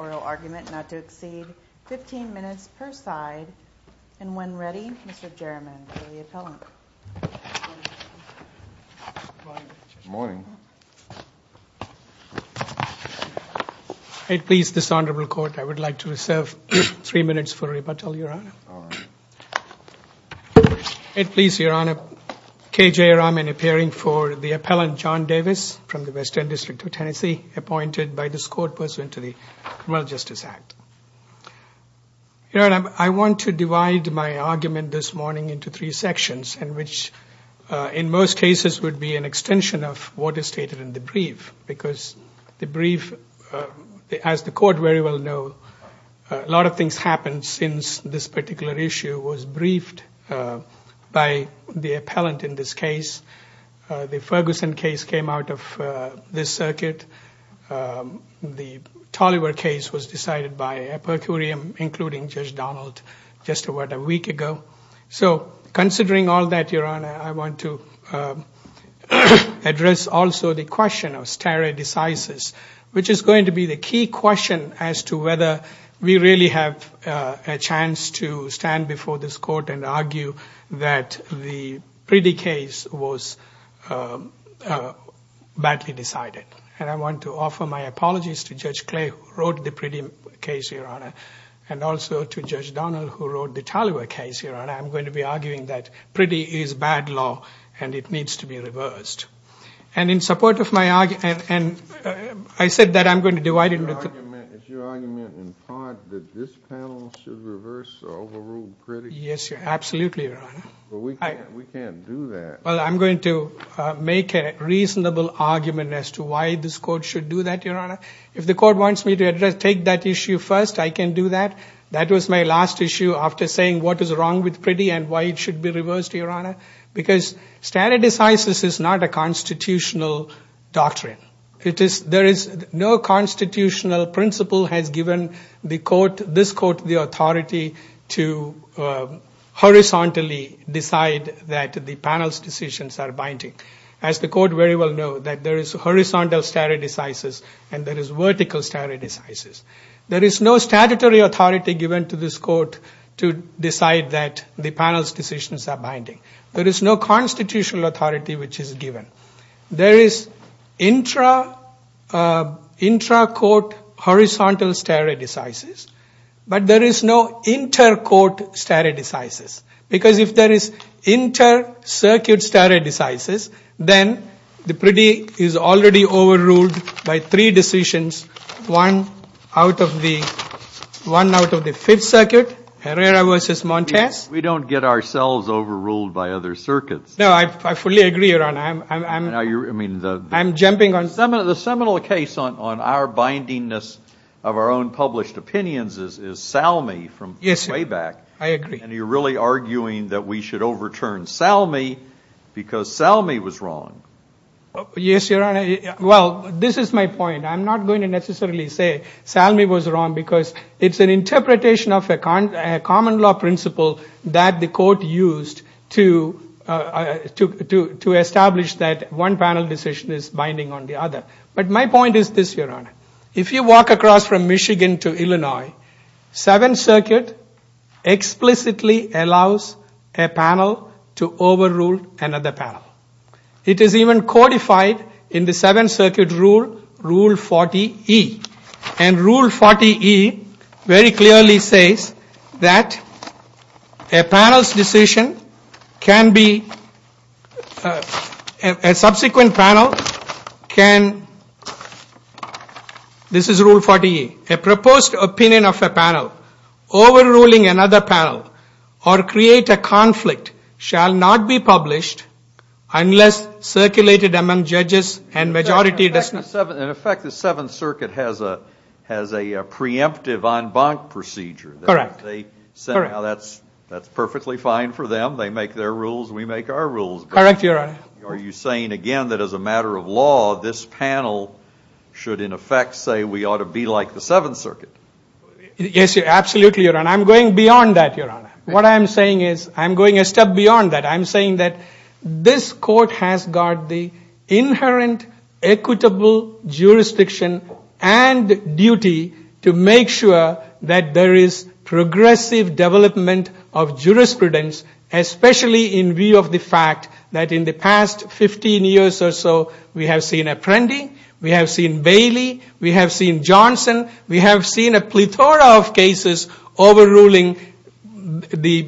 Oral argument not to exceed 15 minutes per side, and when ready, Mr. Jerriman, for the appellant. Good morning. Good morning. It please this Honorable Court, I would like to reserve three minutes for a rebuttal, Your Honor. All right. It please, Your Honor, K. J. Rahman appearing for the appellant, John Davis, from the Western District of Tennessee, appointed by this Court, pursuant to the Criminal Justice Act. I want to divide my argument this morning into three sections, in which in most cases would be an extension of what is stated in the brief, because the brief, as the Court very well know, a lot of things happen since this particular issue was briefed by the appellant in this case. The Ferguson case came out of this circuit. The Tolliver case was decided by a per curiam, including Judge Donald, just about a week ago. So, considering all that, Your Honor, I want to address also the question of stare decisis, which is going to be the key question as to whether we really have a chance to stand before this Court and argue that the Priddy case was badly decided. And I want to offer my apologies to Judge Clay, who wrote the Priddy case, Your Honor, and also to Judge Donald, who wrote the Tolliver case, Your Honor. I'm going to be arguing that Priddy is bad law and it needs to be reversed. And in support of my argument, I said that I'm going to divide it into three sections. Is your argument in part that this panel should reverse the overruled Priddy case? Yes, absolutely, Your Honor. But we can't do that. Well, I'm going to make a reasonable argument as to why this Court should do that, Your Honor. If the Court wants me to take that issue first, I can do that. That was my last issue after saying what is wrong with Priddy and why it should be reversed, Your Honor. Because stare decisis is not a constitutional doctrine. There is no constitutional principle has given this Court the authority to horizontally decide that the panel's decisions are binding. As the Court very well knows, there is horizontal stare decisis and there is vertical stare decisis. There is no statutory authority given to this Court to decide that the panel's decisions are binding. There is no constitutional authority which is given. There is intra-court horizontal stare decisis, but there is no inter-court stare decisis. Because if there is inter-circuit stare decisis, then the Priddy is already overruled by three decisions, one out of the Fifth Circuit, Herrera v. Montes. We don't get ourselves overruled by other circuits. No, I fully agree, Your Honor. I am jumping on... The seminal case on our bindingness of our own published opinions is Salmi from way back. Yes, I agree. And you are really arguing that we should overturn Salmi because Salmi was wrong. Yes, Your Honor. Well, this is my point. I am not going to necessarily say Salmi was wrong because it is an interpretation of a common law principle that the Court used to establish that one panel decision is binding on the other. But my point is this, Your Honor. If you walk across from Michigan to Illinois, Seventh Circuit explicitly allows a panel to overrule another panel. It is even codified in the Seventh Circuit rule, Rule 40E. And Rule 40E very clearly says that a panel's decision can be... A subsequent panel can... This is Rule 40E. A proposed opinion of a panel overruling another panel or create a conflict shall not be published unless circulated among judges and majority... In effect, the Seventh Circuit has a preemptive en banc procedure. Correct. They say that's perfectly fine for them. They make their rules. We make our rules. Correct, Your Honor. Are you saying again that as a matter of law, this panel should in effect say we ought to be like the Seventh Circuit? Yes, absolutely, Your Honor. I'm going beyond that, Your Honor. What I'm saying is I'm going a step beyond that. I'm saying that this court has got the inherent equitable jurisdiction and duty to make sure that there is progressive development of jurisprudence, especially in view of the fact that in the past 15 years or so, we have seen Apprendi, we have seen Bailey, we have seen Johnson, we have seen a plethora of cases overruling the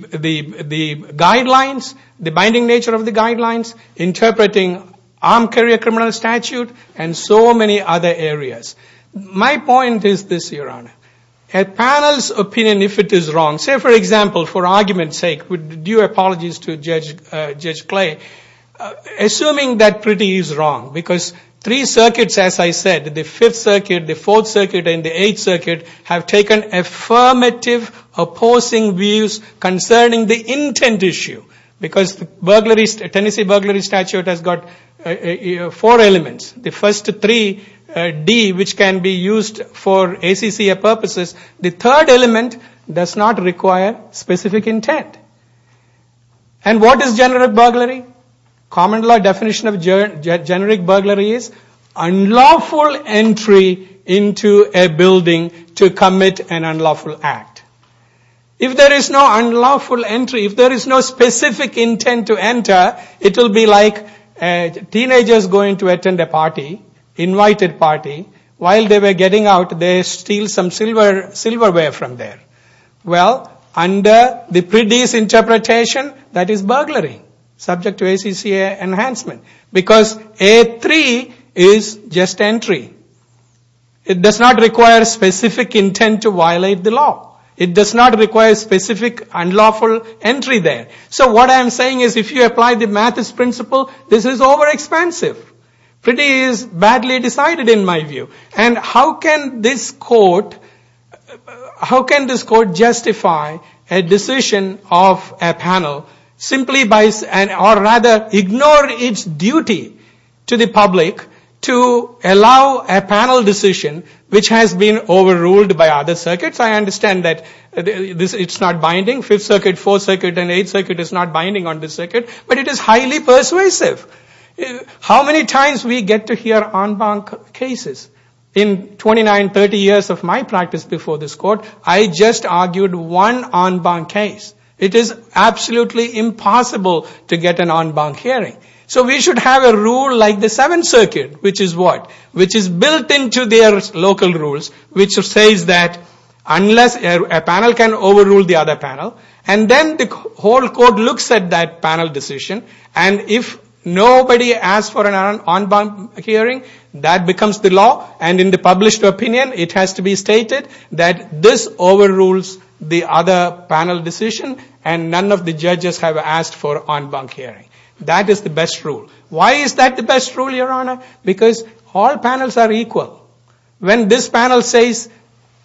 guidelines, the binding nature of the guidelines, interpreting armed carrier criminal statute, and so many other areas. My point is this, Your Honor. A panel's opinion, if it is wrong, say for example, for argument's sake, due apologies to Judge Clay, assuming that Priti is wrong because three circuits, as I said, the Fifth Circuit and the Eighth Circuit, have taken affirmative opposing views concerning the intent issue because the Tennessee burglary statute has got four elements. The first three, D, which can be used for ACCA purposes. The third element does not require specific intent. And what is generic burglary? Common law definition of generic burglary is unlawful entry into a building to commit an unlawful act. If there is no unlawful entry, if there is no specific intent to enter, it will be like teenagers going to attend a party, invited party, while they were getting out, they steal some silverware from there. Well, under the Priti's interpretation, that is burglary, subject to ACCA enhancement. Because A3 is just entry. It does not require specific intent to violate the law. It does not require specific unlawful entry there. So what I'm saying is if you apply the Mathis principle, this is over-expansive. Priti is badly decided in my view. And how can this court justify a decision of a panel simply by, or rather ignore its duty to the public to allow a panel decision which has been overruled by other circuits? I understand that it's not binding, 5th Circuit, 4th Circuit, and 8th Circuit is not binding on this circuit, but it is highly persuasive. How many times we get to hear en banc cases? In 29, 30 years of my practice before this court, I just argued one en banc case. It is absolutely impossible to get an en banc hearing. So we should have a rule like the 7th Circuit, which is what? Which is built into their local rules, which says that unless a panel can overrule the other panel, nobody asks for an en banc hearing. That becomes the law, and in the published opinion, it has to be stated that this overrules the other panel decision, and none of the judges have asked for en banc hearing. That is the best rule. Why is that the best rule, Your Honor? Because all panels are equal. When this panel says,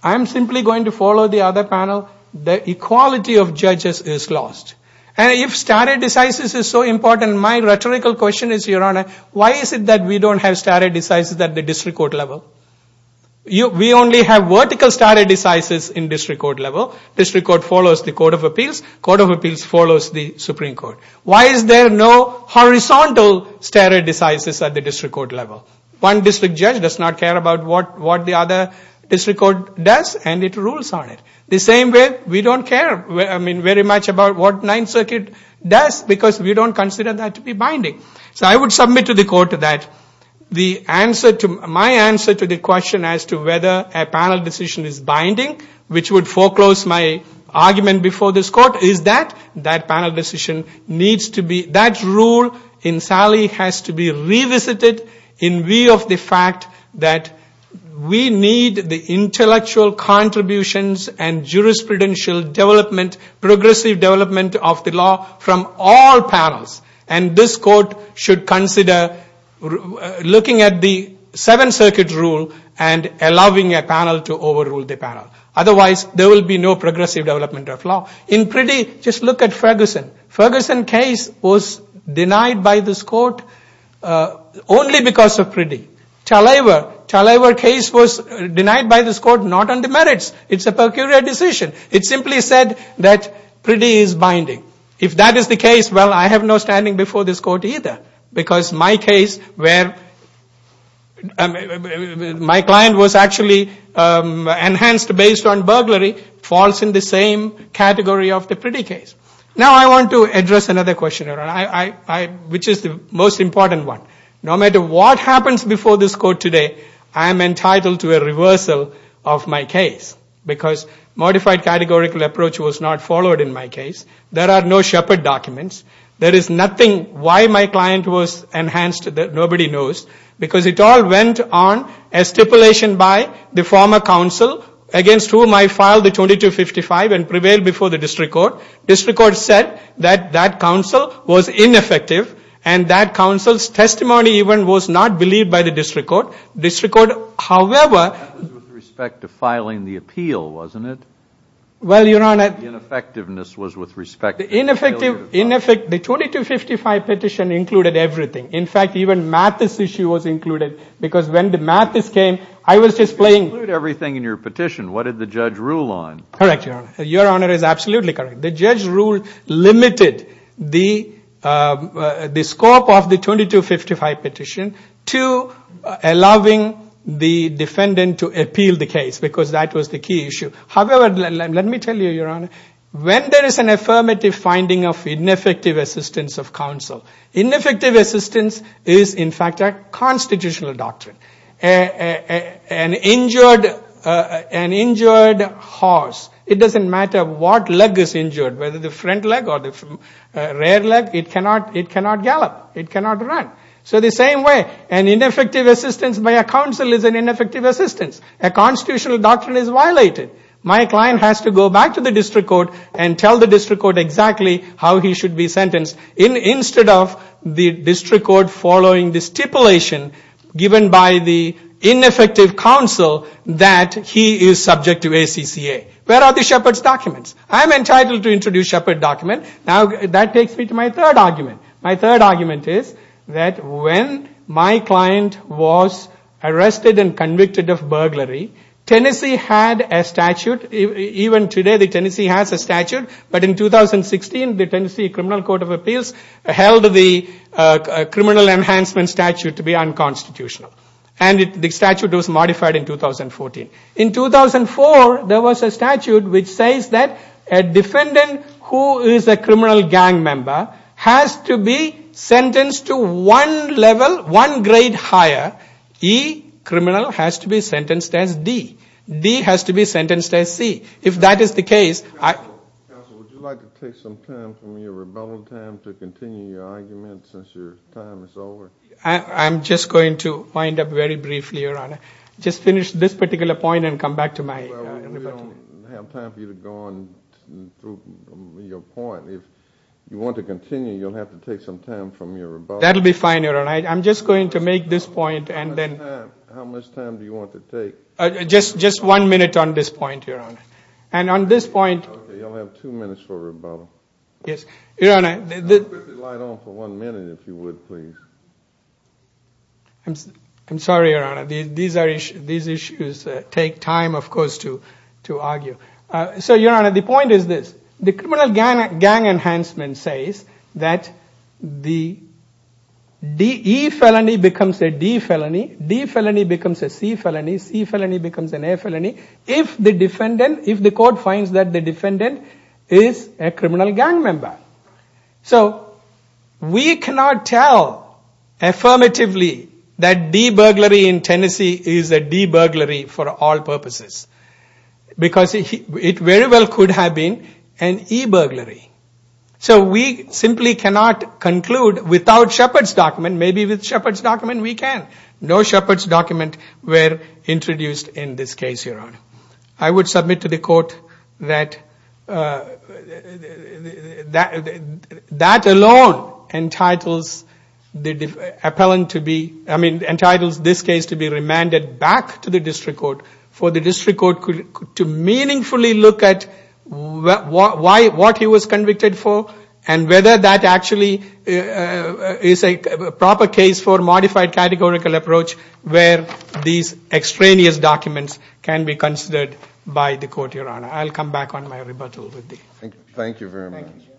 I'm simply going to follow the other panel, the equality of judges is lost. And if stare decisis is so important, my rhetorical question is, Your Honor, why is it that we don't have stare decisis at the district court level? We only have vertical stare decisis in district court level. District court follows the Court of Appeals. Court of Appeals follows the Supreme Court. Why is there no horizontal stare decisis at the district court level? One district judge does not care about what the other district court does, and it rules on it. The same way, we don't care very much about what Ninth Circuit does, because we don't consider that to be binding. So I would submit to the court that my answer to the question as to whether a panel decision is binding, which would foreclose my argument before this court, is that that panel decision needs to be, that rule in Sally has to be revisited in view of the fact that we need the intellectual contributions and jurisprudential development, progressive development of the law from all panels. And this court should consider looking at the Seventh Circuit rule and allowing a panel to overrule the panel. Otherwise, there will be no progressive development of law. In Priddy, just look at Ferguson. Ferguson case was denied by this court only because of Priddy. Talaver case was denied by this court not on the merits. It's a peculiar decision. It simply said that Priddy is binding. If that is the case, well, I have no standing before this court either, because my case where my client was actually enhanced based on burglary falls in the same category of the Priddy case. Now I want to address another question, which is the most important one. No matter what happens before this court today, I am entitled to a reversal of my case, because modified categorical approach was not followed in my case. There are no Shepard documents. There is nothing why my client was enhanced that nobody knows, because it all went on as stipulation by the former counsel against whom I filed the 2255 and prevailed before the district court. The district court said that that counsel was ineffective, and that counsel's testimony even was not believed by the district court. The district court, however... That was with respect to filing the appeal, wasn't it? Well, Your Honor... The ineffectiveness was with respect to... The ineffective...... the failure to file... The 2255 petition included everything. In fact, even Mathis issue was included, because when the Mathis came, I was just playing... It didn't include everything in your petition. What did the judge rule on? Correct, Your Honor. Your Honor is absolutely correct. The judge rule limited the scope of the 2255 petition to allowing the defendant to appeal the case, because that was the key issue. However, let me tell you, Your Honor, when there is an affirmative finding of ineffective assistance of counsel, ineffective assistance is, in fact, a constitutional doctrine. An injured horse, it doesn't matter what leg is injured, whether the front leg or the rear leg, it cannot gallop, it cannot run. So the same way, an ineffective assistance by a counsel is an ineffective assistance. A constitutional doctrine is violated. My client has to go back to the district court and tell the district court exactly how he is subject to ACCA. Where are the Shepard's documents? I am entitled to introduce Shepard's documents. That takes me to my third argument. My third argument is that when my client was arrested and convicted of burglary, Tennessee had a statute. Even today, Tennessee has a statute, but in 2016, the Tennessee Criminal Court of Appeals held the criminal enhancement statute to be unconstitutional. And the statute was modified in 2014. In 2004, there was a statute which says that a defendant who is a criminal gang member has to be sentenced to one level, one grade higher. E, criminal, has to be sentenced as D. D has to be sentenced as C. If that is the case, I... Counsel, would you like to take some time from your rebuttal time to continue your argument since your time is over? I'm just going to wind up very briefly, Your Honor. Just finish this particular point and come back to my... Well, we don't have time for you to go on through your point. If you want to continue, you'll have to take some time from your rebuttal. That'll be fine, Your Honor. I'm just going to make this point and then... How much time do you want to take? Just one minute on this point, Your Honor. And on this point... Okay. You'll have two minutes for rebuttal. Yes. Your Honor... Could you quickly light on for one minute, if you would, please? I'm sorry, Your Honor. These issues take time, of course, to argue. So Your Honor, the point is this. The criminal gang enhancement says that the E felony becomes a D felony. D felony becomes a C felony. C felony becomes an A felony. If the defendant... If the court finds that the defendant is a criminal gang member. So we cannot tell affirmatively that D burglary in Tennessee is a D burglary for all purposes. Because it very well could have been an E burglary. So we simply cannot conclude without Shepard's document. Maybe with Shepard's document, we can. No Shepard's document were introduced in this case, Your Honor. I would submit to the court that that alone entitles the appellant to be... I mean, entitles this case to be remanded back to the district court for the district court to meaningfully look at what he was convicted for and whether that actually is a proper case for modified categorical approach where these extraneous documents can be considered by the court, Your Honor. I'll come back on my rebuttal with the... Thank you very much. Thank you, Judge.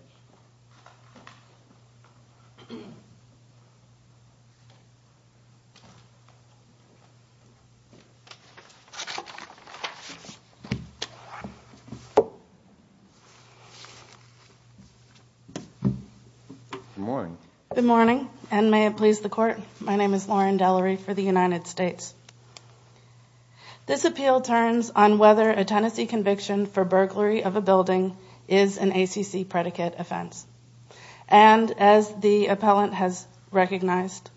Good morning. Good morning. And may it please the court, my name is Lauren Delery for the United States. This appeal turns on whether a Tennessee conviction for burglary of a building is an ACC predicate offense. And as the appellant has recognized,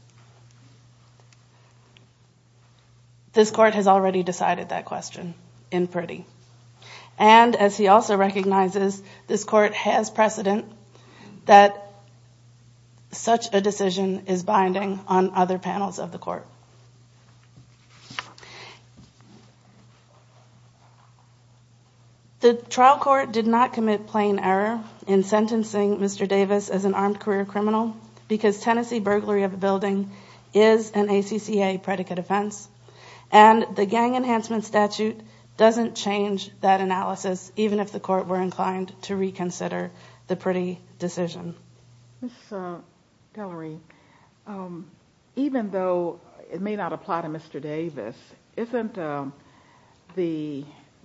this court has already decided that question in pretty. And as he also recognizes, this court has precedent that such a decision is binding on other panels of the court. The trial court did not commit plain error in sentencing Mr. Davis as an armed career criminal because Tennessee burglary of a building is an ACCA predicate offense and the gang enhancement statute doesn't change that analysis even if the court were inclined to reconsider the pretty decision. Ms. Delery, even though it may not apply to Mr. Davis, isn't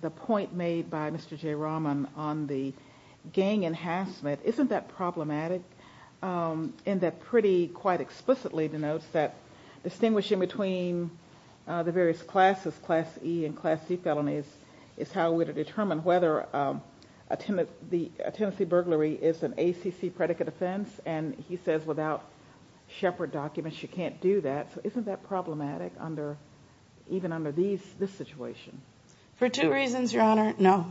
the point made by Mr. J. Rahman on the gang enhancement, isn't that problematic in that pretty quite explicitly denotes that distinguishing between the various classes, class E and class C felonies is how we determine whether a Tennessee burglary is an ACC predicate offense and he says without Shepard documents you can't do that, so isn't that problematic even under this situation? For two reasons, Your Honor, no.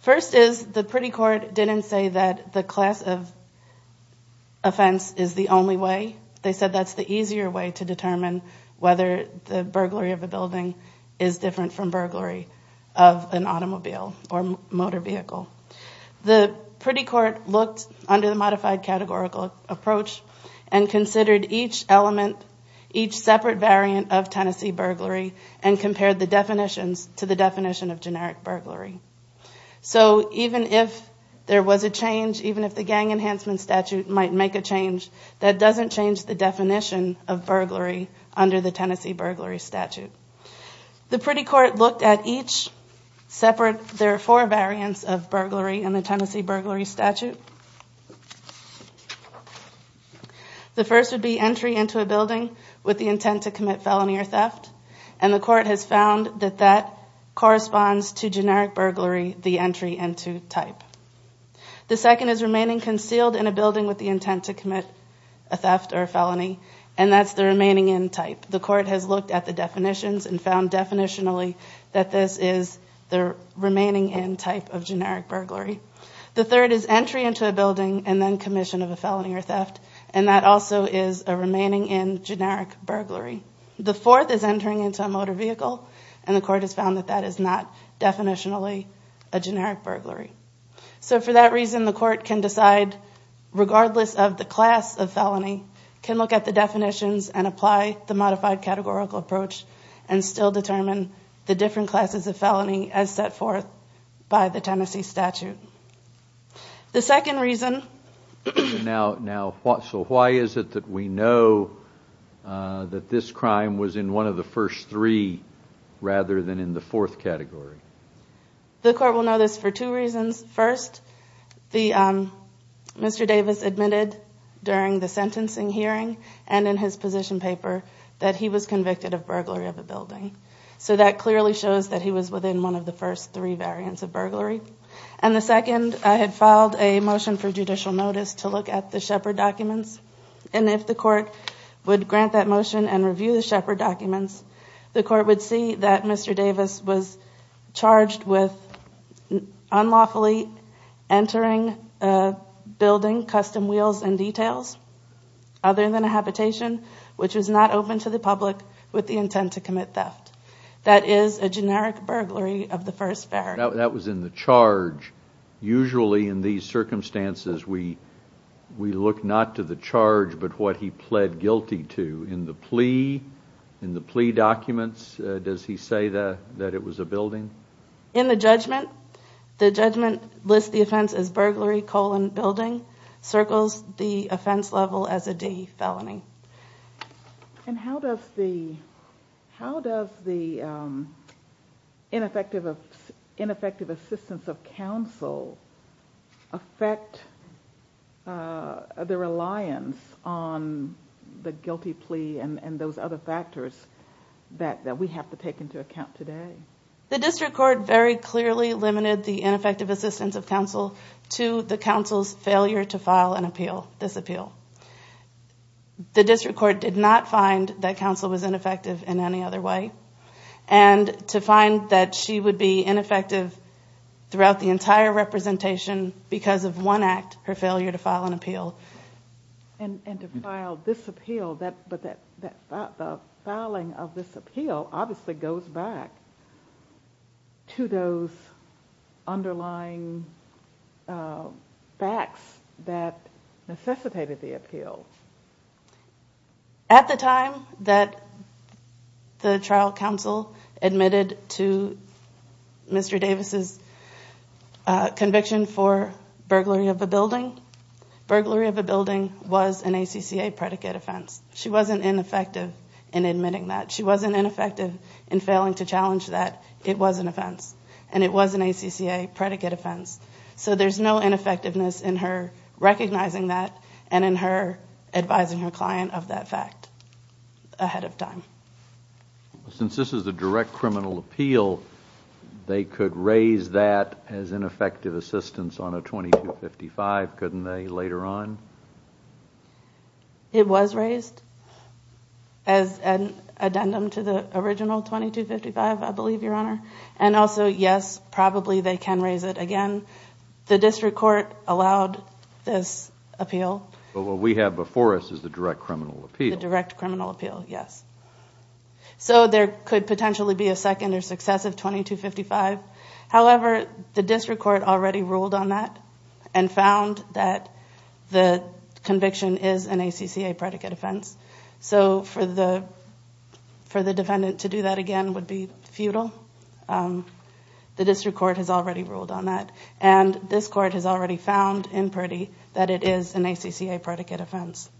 First is the pretty court didn't say that the class of offense is the only way. They said that's the easier way to determine whether the burglary of a building is different from burglary of an automobile or motor vehicle. The pretty court looked under the modified categorical approach and considered each element, each separate variant of Tennessee burglary and compared the definitions to the definition of generic burglary. So even if there was a change, even if the gang enhancement statute might make a change, that doesn't change the definition of burglary under the Tennessee burglary statute. The pretty court looked at each separate, there are four variants of burglary in the Tennessee burglary statute. The first would be entry into a building with the intent to commit felony or theft and the court has found that that corresponds to generic burglary, the entry into type. The second is remaining concealed in a building with the intent to commit a theft or a felony and that's the remaining in type. The court has looked at the definitions and found definitionally that this is the remaining in type of generic burglary. The third is entry into a building and then commission of a felony or theft and that also is a remaining in generic burglary. The fourth is entering into a motor vehicle and the court has found that that is not definitionally a generic burglary. So for that reason, the court can decide regardless of the class of felony, can look at the definitions and apply the modified categorical approach and still determine the different classes of felony as set forth by the Tennessee statute. The second reason, so why is it that we know that this crime was in one of the first three rather than in the fourth category? The court will know this for two reasons. First, Mr. Davis admitted during the sentencing hearing and in his position paper that he was convicted of burglary of a building. So that clearly shows that he was within one of the first three variants of burglary. And the second, I had filed a motion for judicial notice to look at the Shepard documents and if the court would grant that motion and review the Shepard documents, the court would see that Mr. Davis was charged with unlawfully entering a building, custom wheels and details other than a habitation which was not open to the public with the intent to commit theft. That is a generic burglary of the first variant. That was in the charge. Usually in these circumstances, we look not to the charge but what he pled guilty to. In the plea documents, does he say that it was a building? In the judgment, the judgment lists the offense as burglary colon building, circles the offense level as a D felony. And how does the ineffective assistance of counsel affect the reliance on the guilty plea and those other factors that we have to take into account today? The district court very clearly limited the ineffective assistance of counsel to the counsel's failure to file an appeal, this appeal. The district court did not find that counsel was ineffective in any other way. And to find that she would be ineffective throughout the entire representation because of one act, her failure to file an appeal. And to file this appeal, but the filing of this appeal obviously goes back to those underlying facts that necessitated the appeal. At the time that the trial counsel admitted to Mr. Davis's conviction for burglary of a building, burglary of a building was an ACCA predicate offense. She wasn't ineffective in admitting that. She wasn't ineffective in failing to challenge that it was an offense. And it was an ACCA predicate offense. So there's no ineffectiveness in her recognizing that and in her advising her client of that fact ahead of time. Since this is a direct criminal appeal, they could raise that as ineffective assistance on a 2255, couldn't they, later on? It was raised as an addendum to the original 2255, I believe, Your Honor. And also, yes, probably they can raise it again. The district court allowed this appeal. But what we have before us is the direct criminal appeal. The direct criminal appeal, yes. So there could potentially be a second or successive 2255. However, the district court already ruled on that and found that the conviction is an ACCA predicate offense. So for the defendant to do that again would be futile. The district court has already ruled on that. And this court has already found in Purdy that it is an ACCA predicate offense.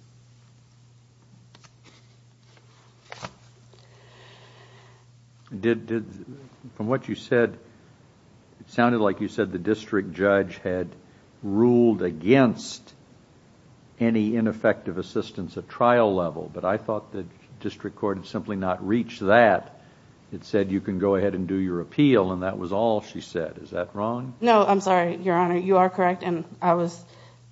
From what you said, it sounded like you said the district judge had ruled against any ineffective assistance at trial level, but I thought the district court had simply not reached that. It said you can go ahead and do your appeal and that was all she said. Is that wrong? No. I'm sorry, Your Honor. You are correct and I was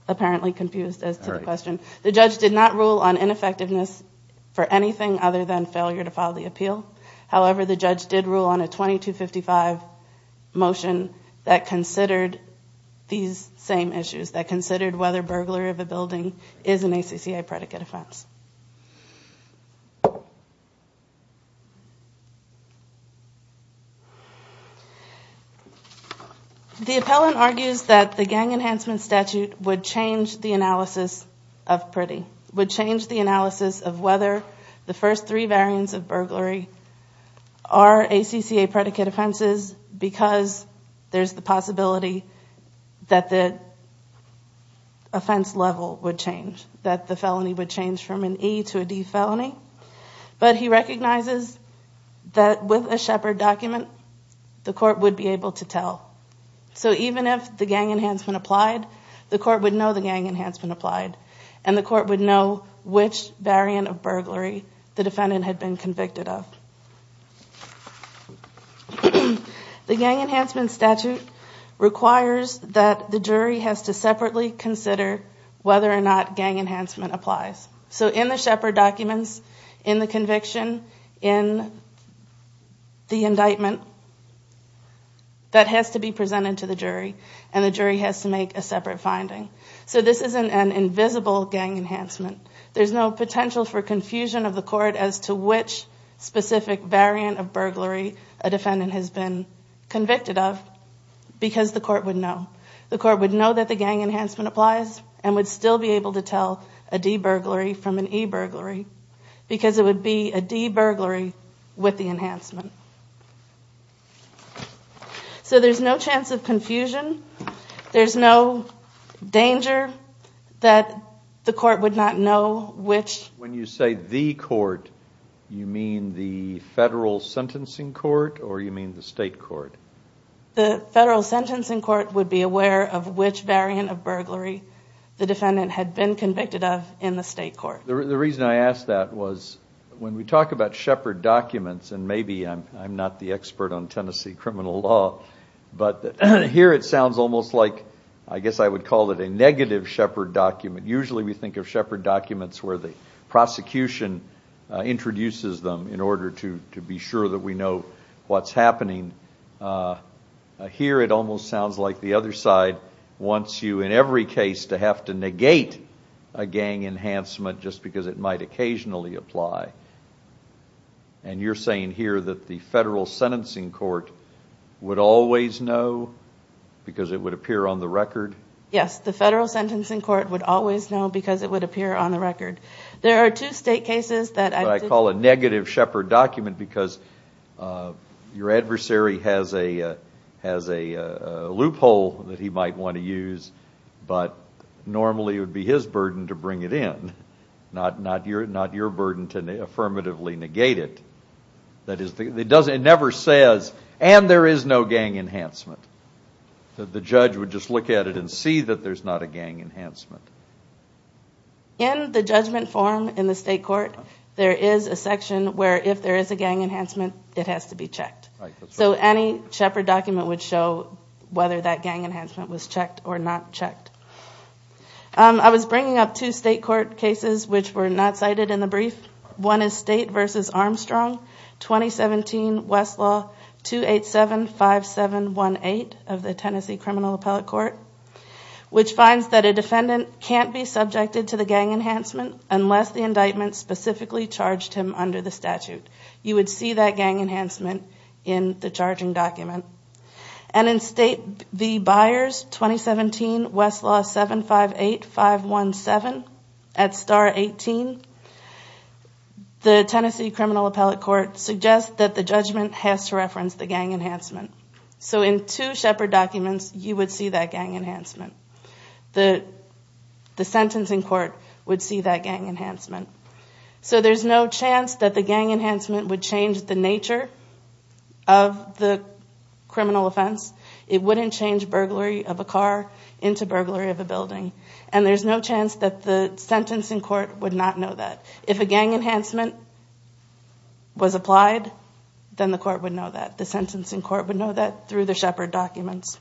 apparently confused as to the question. The judge did not rule on ineffectiveness for anything other than failure to file the appeal. However, the judge did rule on a 2255 motion that considered these same issues, that considered whether burglary of a building is an ACCA predicate offense. The appellant argues that the gang enhancement statute would change the analysis of Purdy, would change the analysis of whether the first three variants of burglary are ACCA predicate offenses because there's the possibility that the offense level would change, that the felony would change from an E to a D felony. But he recognizes that with a Shepard document, the court would be able to tell. So even if the gang enhancement applied, the court would know the gang enhancement applied and the court would know which variant of burglary the defendant had been convicted of. The gang enhancement statute requires that the jury has to separately consider whether or not gang enhancement applies. So in the Shepard documents, in the conviction, in the indictment, that has to be presented to the jury and the jury has to make a separate finding. So this isn't an invisible gang enhancement. There's no potential for confusion of the court as to which specific variant of burglary a defendant has been convicted of because the court would know. The court would know that the gang enhancement applies and would still be able to tell a D burglary from an E burglary because it would be a D burglary with the enhancement. So there's no chance of confusion. There's no danger that the court would not know which... When you say the court, you mean the federal sentencing court or you mean the state court? The federal sentencing court would be aware of which variant of burglary the defendant had been convicted of in the state court. The reason I ask that was when we talk about Shepard documents, and maybe I'm not the expert on Tennessee criminal law, but here it sounds almost like, I guess I would call it a negative Shepard document. Usually we think of Shepard documents where the prosecution introduces them in order to be sure that we know what's happening. Here it almost sounds like the other side wants you, in every case, to have to negate a gang enhancement just because it might occasionally apply. And you're saying here that the federal sentencing court would always know because it would appear on the record? Yes. The federal sentencing court would always know because it would appear on the record. There are two state cases that I call a negative Shepard document because your adversary has a loophole that he might want to use, but normally it would be his burden to bring it in, not your burden to affirmatively negate it. That is, it never says, and there is no gang enhancement. The judge would just look at it and see that there's not a gang enhancement. In the judgment form in the state court, there is a section where if there is a gang enhancement, it has to be checked. So any Shepard document would show whether that gang enhancement was checked or not checked. I was bringing up two state court cases which were not cited in the brief. One is State v. Armstrong, 2017 Westlaw 2875718 of the Tennessee Criminal Appellate Court, which finds that a defendant can't be subjected to the gang enhancement unless the indictment specifically charged him under the statute. You would see that gang enhancement in the charging document. And in State v. Byers, 2017 Westlaw 758517 at Star 18, the Tennessee Criminal Appellate Court suggests that the judgment has to reference the gang enhancement. So in two Shepard documents, you would see that gang enhancement. The sentencing court would see that gang enhancement. So there's no chance that the gang enhancement would change the nature of the criminal offense. It wouldn't change burglary of a car into burglary of a building. And there's no chance that the sentencing court would not know that. If a gang enhancement was applied, then the court would know that. The sentencing court would know that through the Shepard documents.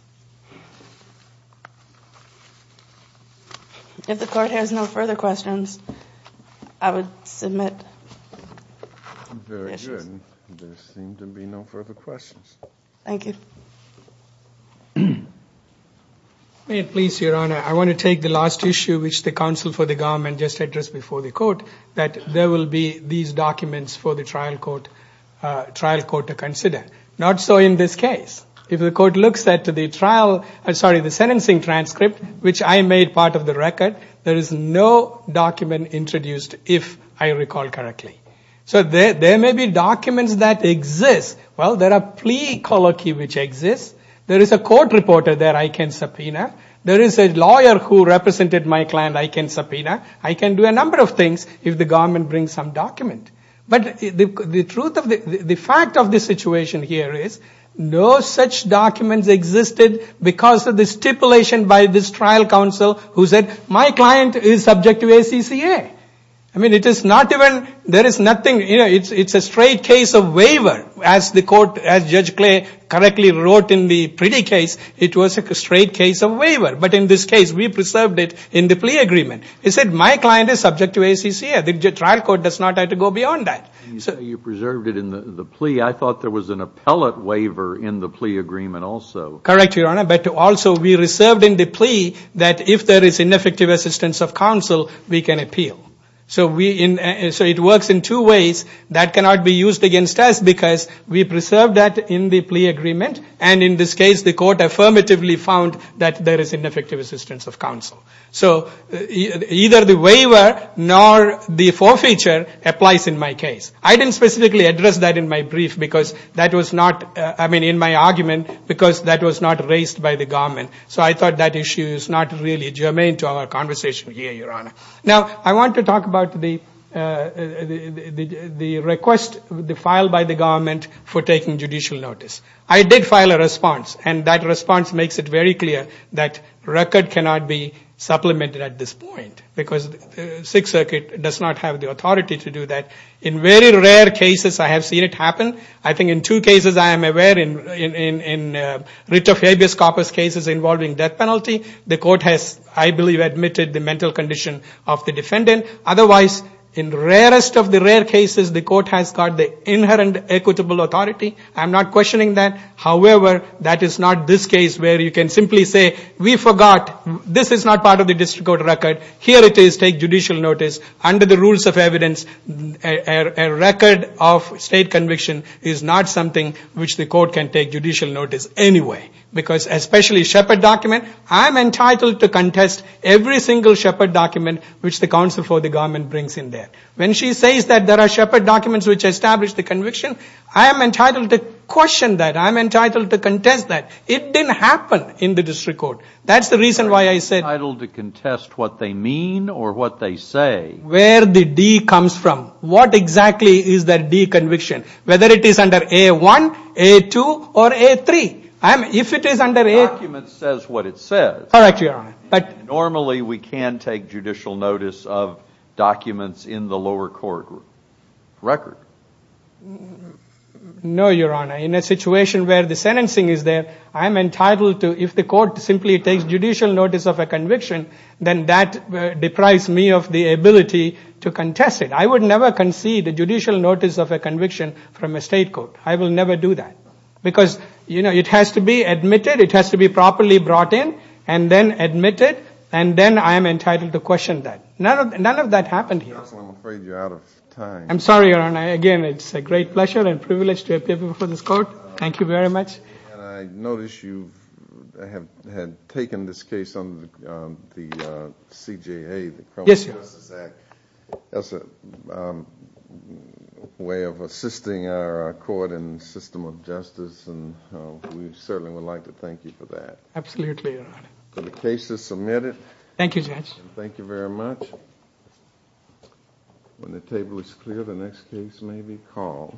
If the court has no further questions, I would submit. Very good. There seem to be no further questions. Thank you. May it please Your Honor, I want to take the last issue, which the counsel for the government just addressed before the court, that there will be these documents for the trial court to consider. Not so in this case. If the court looks at the trial, sorry, the sentencing transcript, which I made part of the record, there is no document introduced if I recall correctly. So there may be documents that exist. Well, there are plea colloquy which exists. There is a court reporter that I can subpoena. There is a lawyer who represented my client I can subpoena. I can do a number of things if the government brings some document. But the fact of the situation here is, no such documents existed because of the stipulation by this trial counsel who said, my client is subject to ACCA. I mean, it is not even, there is nothing, it is a straight case of waiver. As Judge Clay correctly wrote in the pretty case, it was a straight case of waiver. But in this case, we preserved it in the plea agreement. It said, my client is subject to ACCA. The trial court does not have to go beyond that. You preserved it in the plea. I thought there was an appellate waiver in the plea agreement also. Correct, Your Honor. But also we reserved in the plea that if there is ineffective assistance of counsel, we can appeal. So it works in two ways. That cannot be used against us because we preserved that in the plea agreement. And in this case, the court affirmatively found that there is ineffective assistance of counsel. So either the waiver nor the forfeiture applies in my case. I didn't specifically address that in my brief because that was not, I mean, in my argument, because that was not raised by the government. So I thought that issue is not really germane to our conversation here, Your Honor. Now, I want to talk about the request filed by the government for taking judicial notice. I did file a response, and that response makes it very clear that record cannot be supplemented at this point because the Sixth Circuit does not have the authority to do that. In very rare cases, I have seen it happen. I think in two cases I am aware in Rich of habeas corpus cases involving death penalty, the court has, I believe, admitted the mental condition of the defendant. Otherwise, in the rarest of the rare cases, the court has got the inherent equitable authority. I'm not questioning that. However, that is not this case where you can simply say we forgot. This is not part of the district court record. Here it is, take judicial notice. Under the rules of evidence, a record of state conviction is not something which the court can take judicial notice anyway because especially Shepard document, I'm entitled to contest every single Shepard document which the counsel for the government brings in there. When she says that there are Shepard documents which establish the conviction, I am entitled to question that. I'm entitled to contest that. It didn't happen in the district court. That's the reason why I said… Entitled to contest what they mean or what they say. Where the D comes from. What exactly is that D conviction, whether it is under A1, A2, or A3. The document says what it says. Correct, Your Honor. Normally we can take judicial notice of documents in the lower court record. No, Your Honor. In a situation where the sentencing is there, I am entitled to, if the court simply takes judicial notice of a conviction, then that deprives me of the ability to contest it. I would never concede a judicial notice of a conviction from a state court. I will never do that. Because it has to be admitted. It has to be properly brought in and then admitted. Then I am entitled to question that. None of that happened here. Counsel, I'm afraid you're out of time. I'm sorry, Your Honor. Again, it's a great pleasure and privilege to appear before this court. Thank you very much. I noticed you had taken this case on the CJA, the Criminal Justice Act, as a way of assisting our court and system of justice. We certainly would like to thank you for that. Absolutely, Your Honor. The case is submitted. Thank you, Judge. Thank you very much. When the table is clear, the next case may be called. Thank you.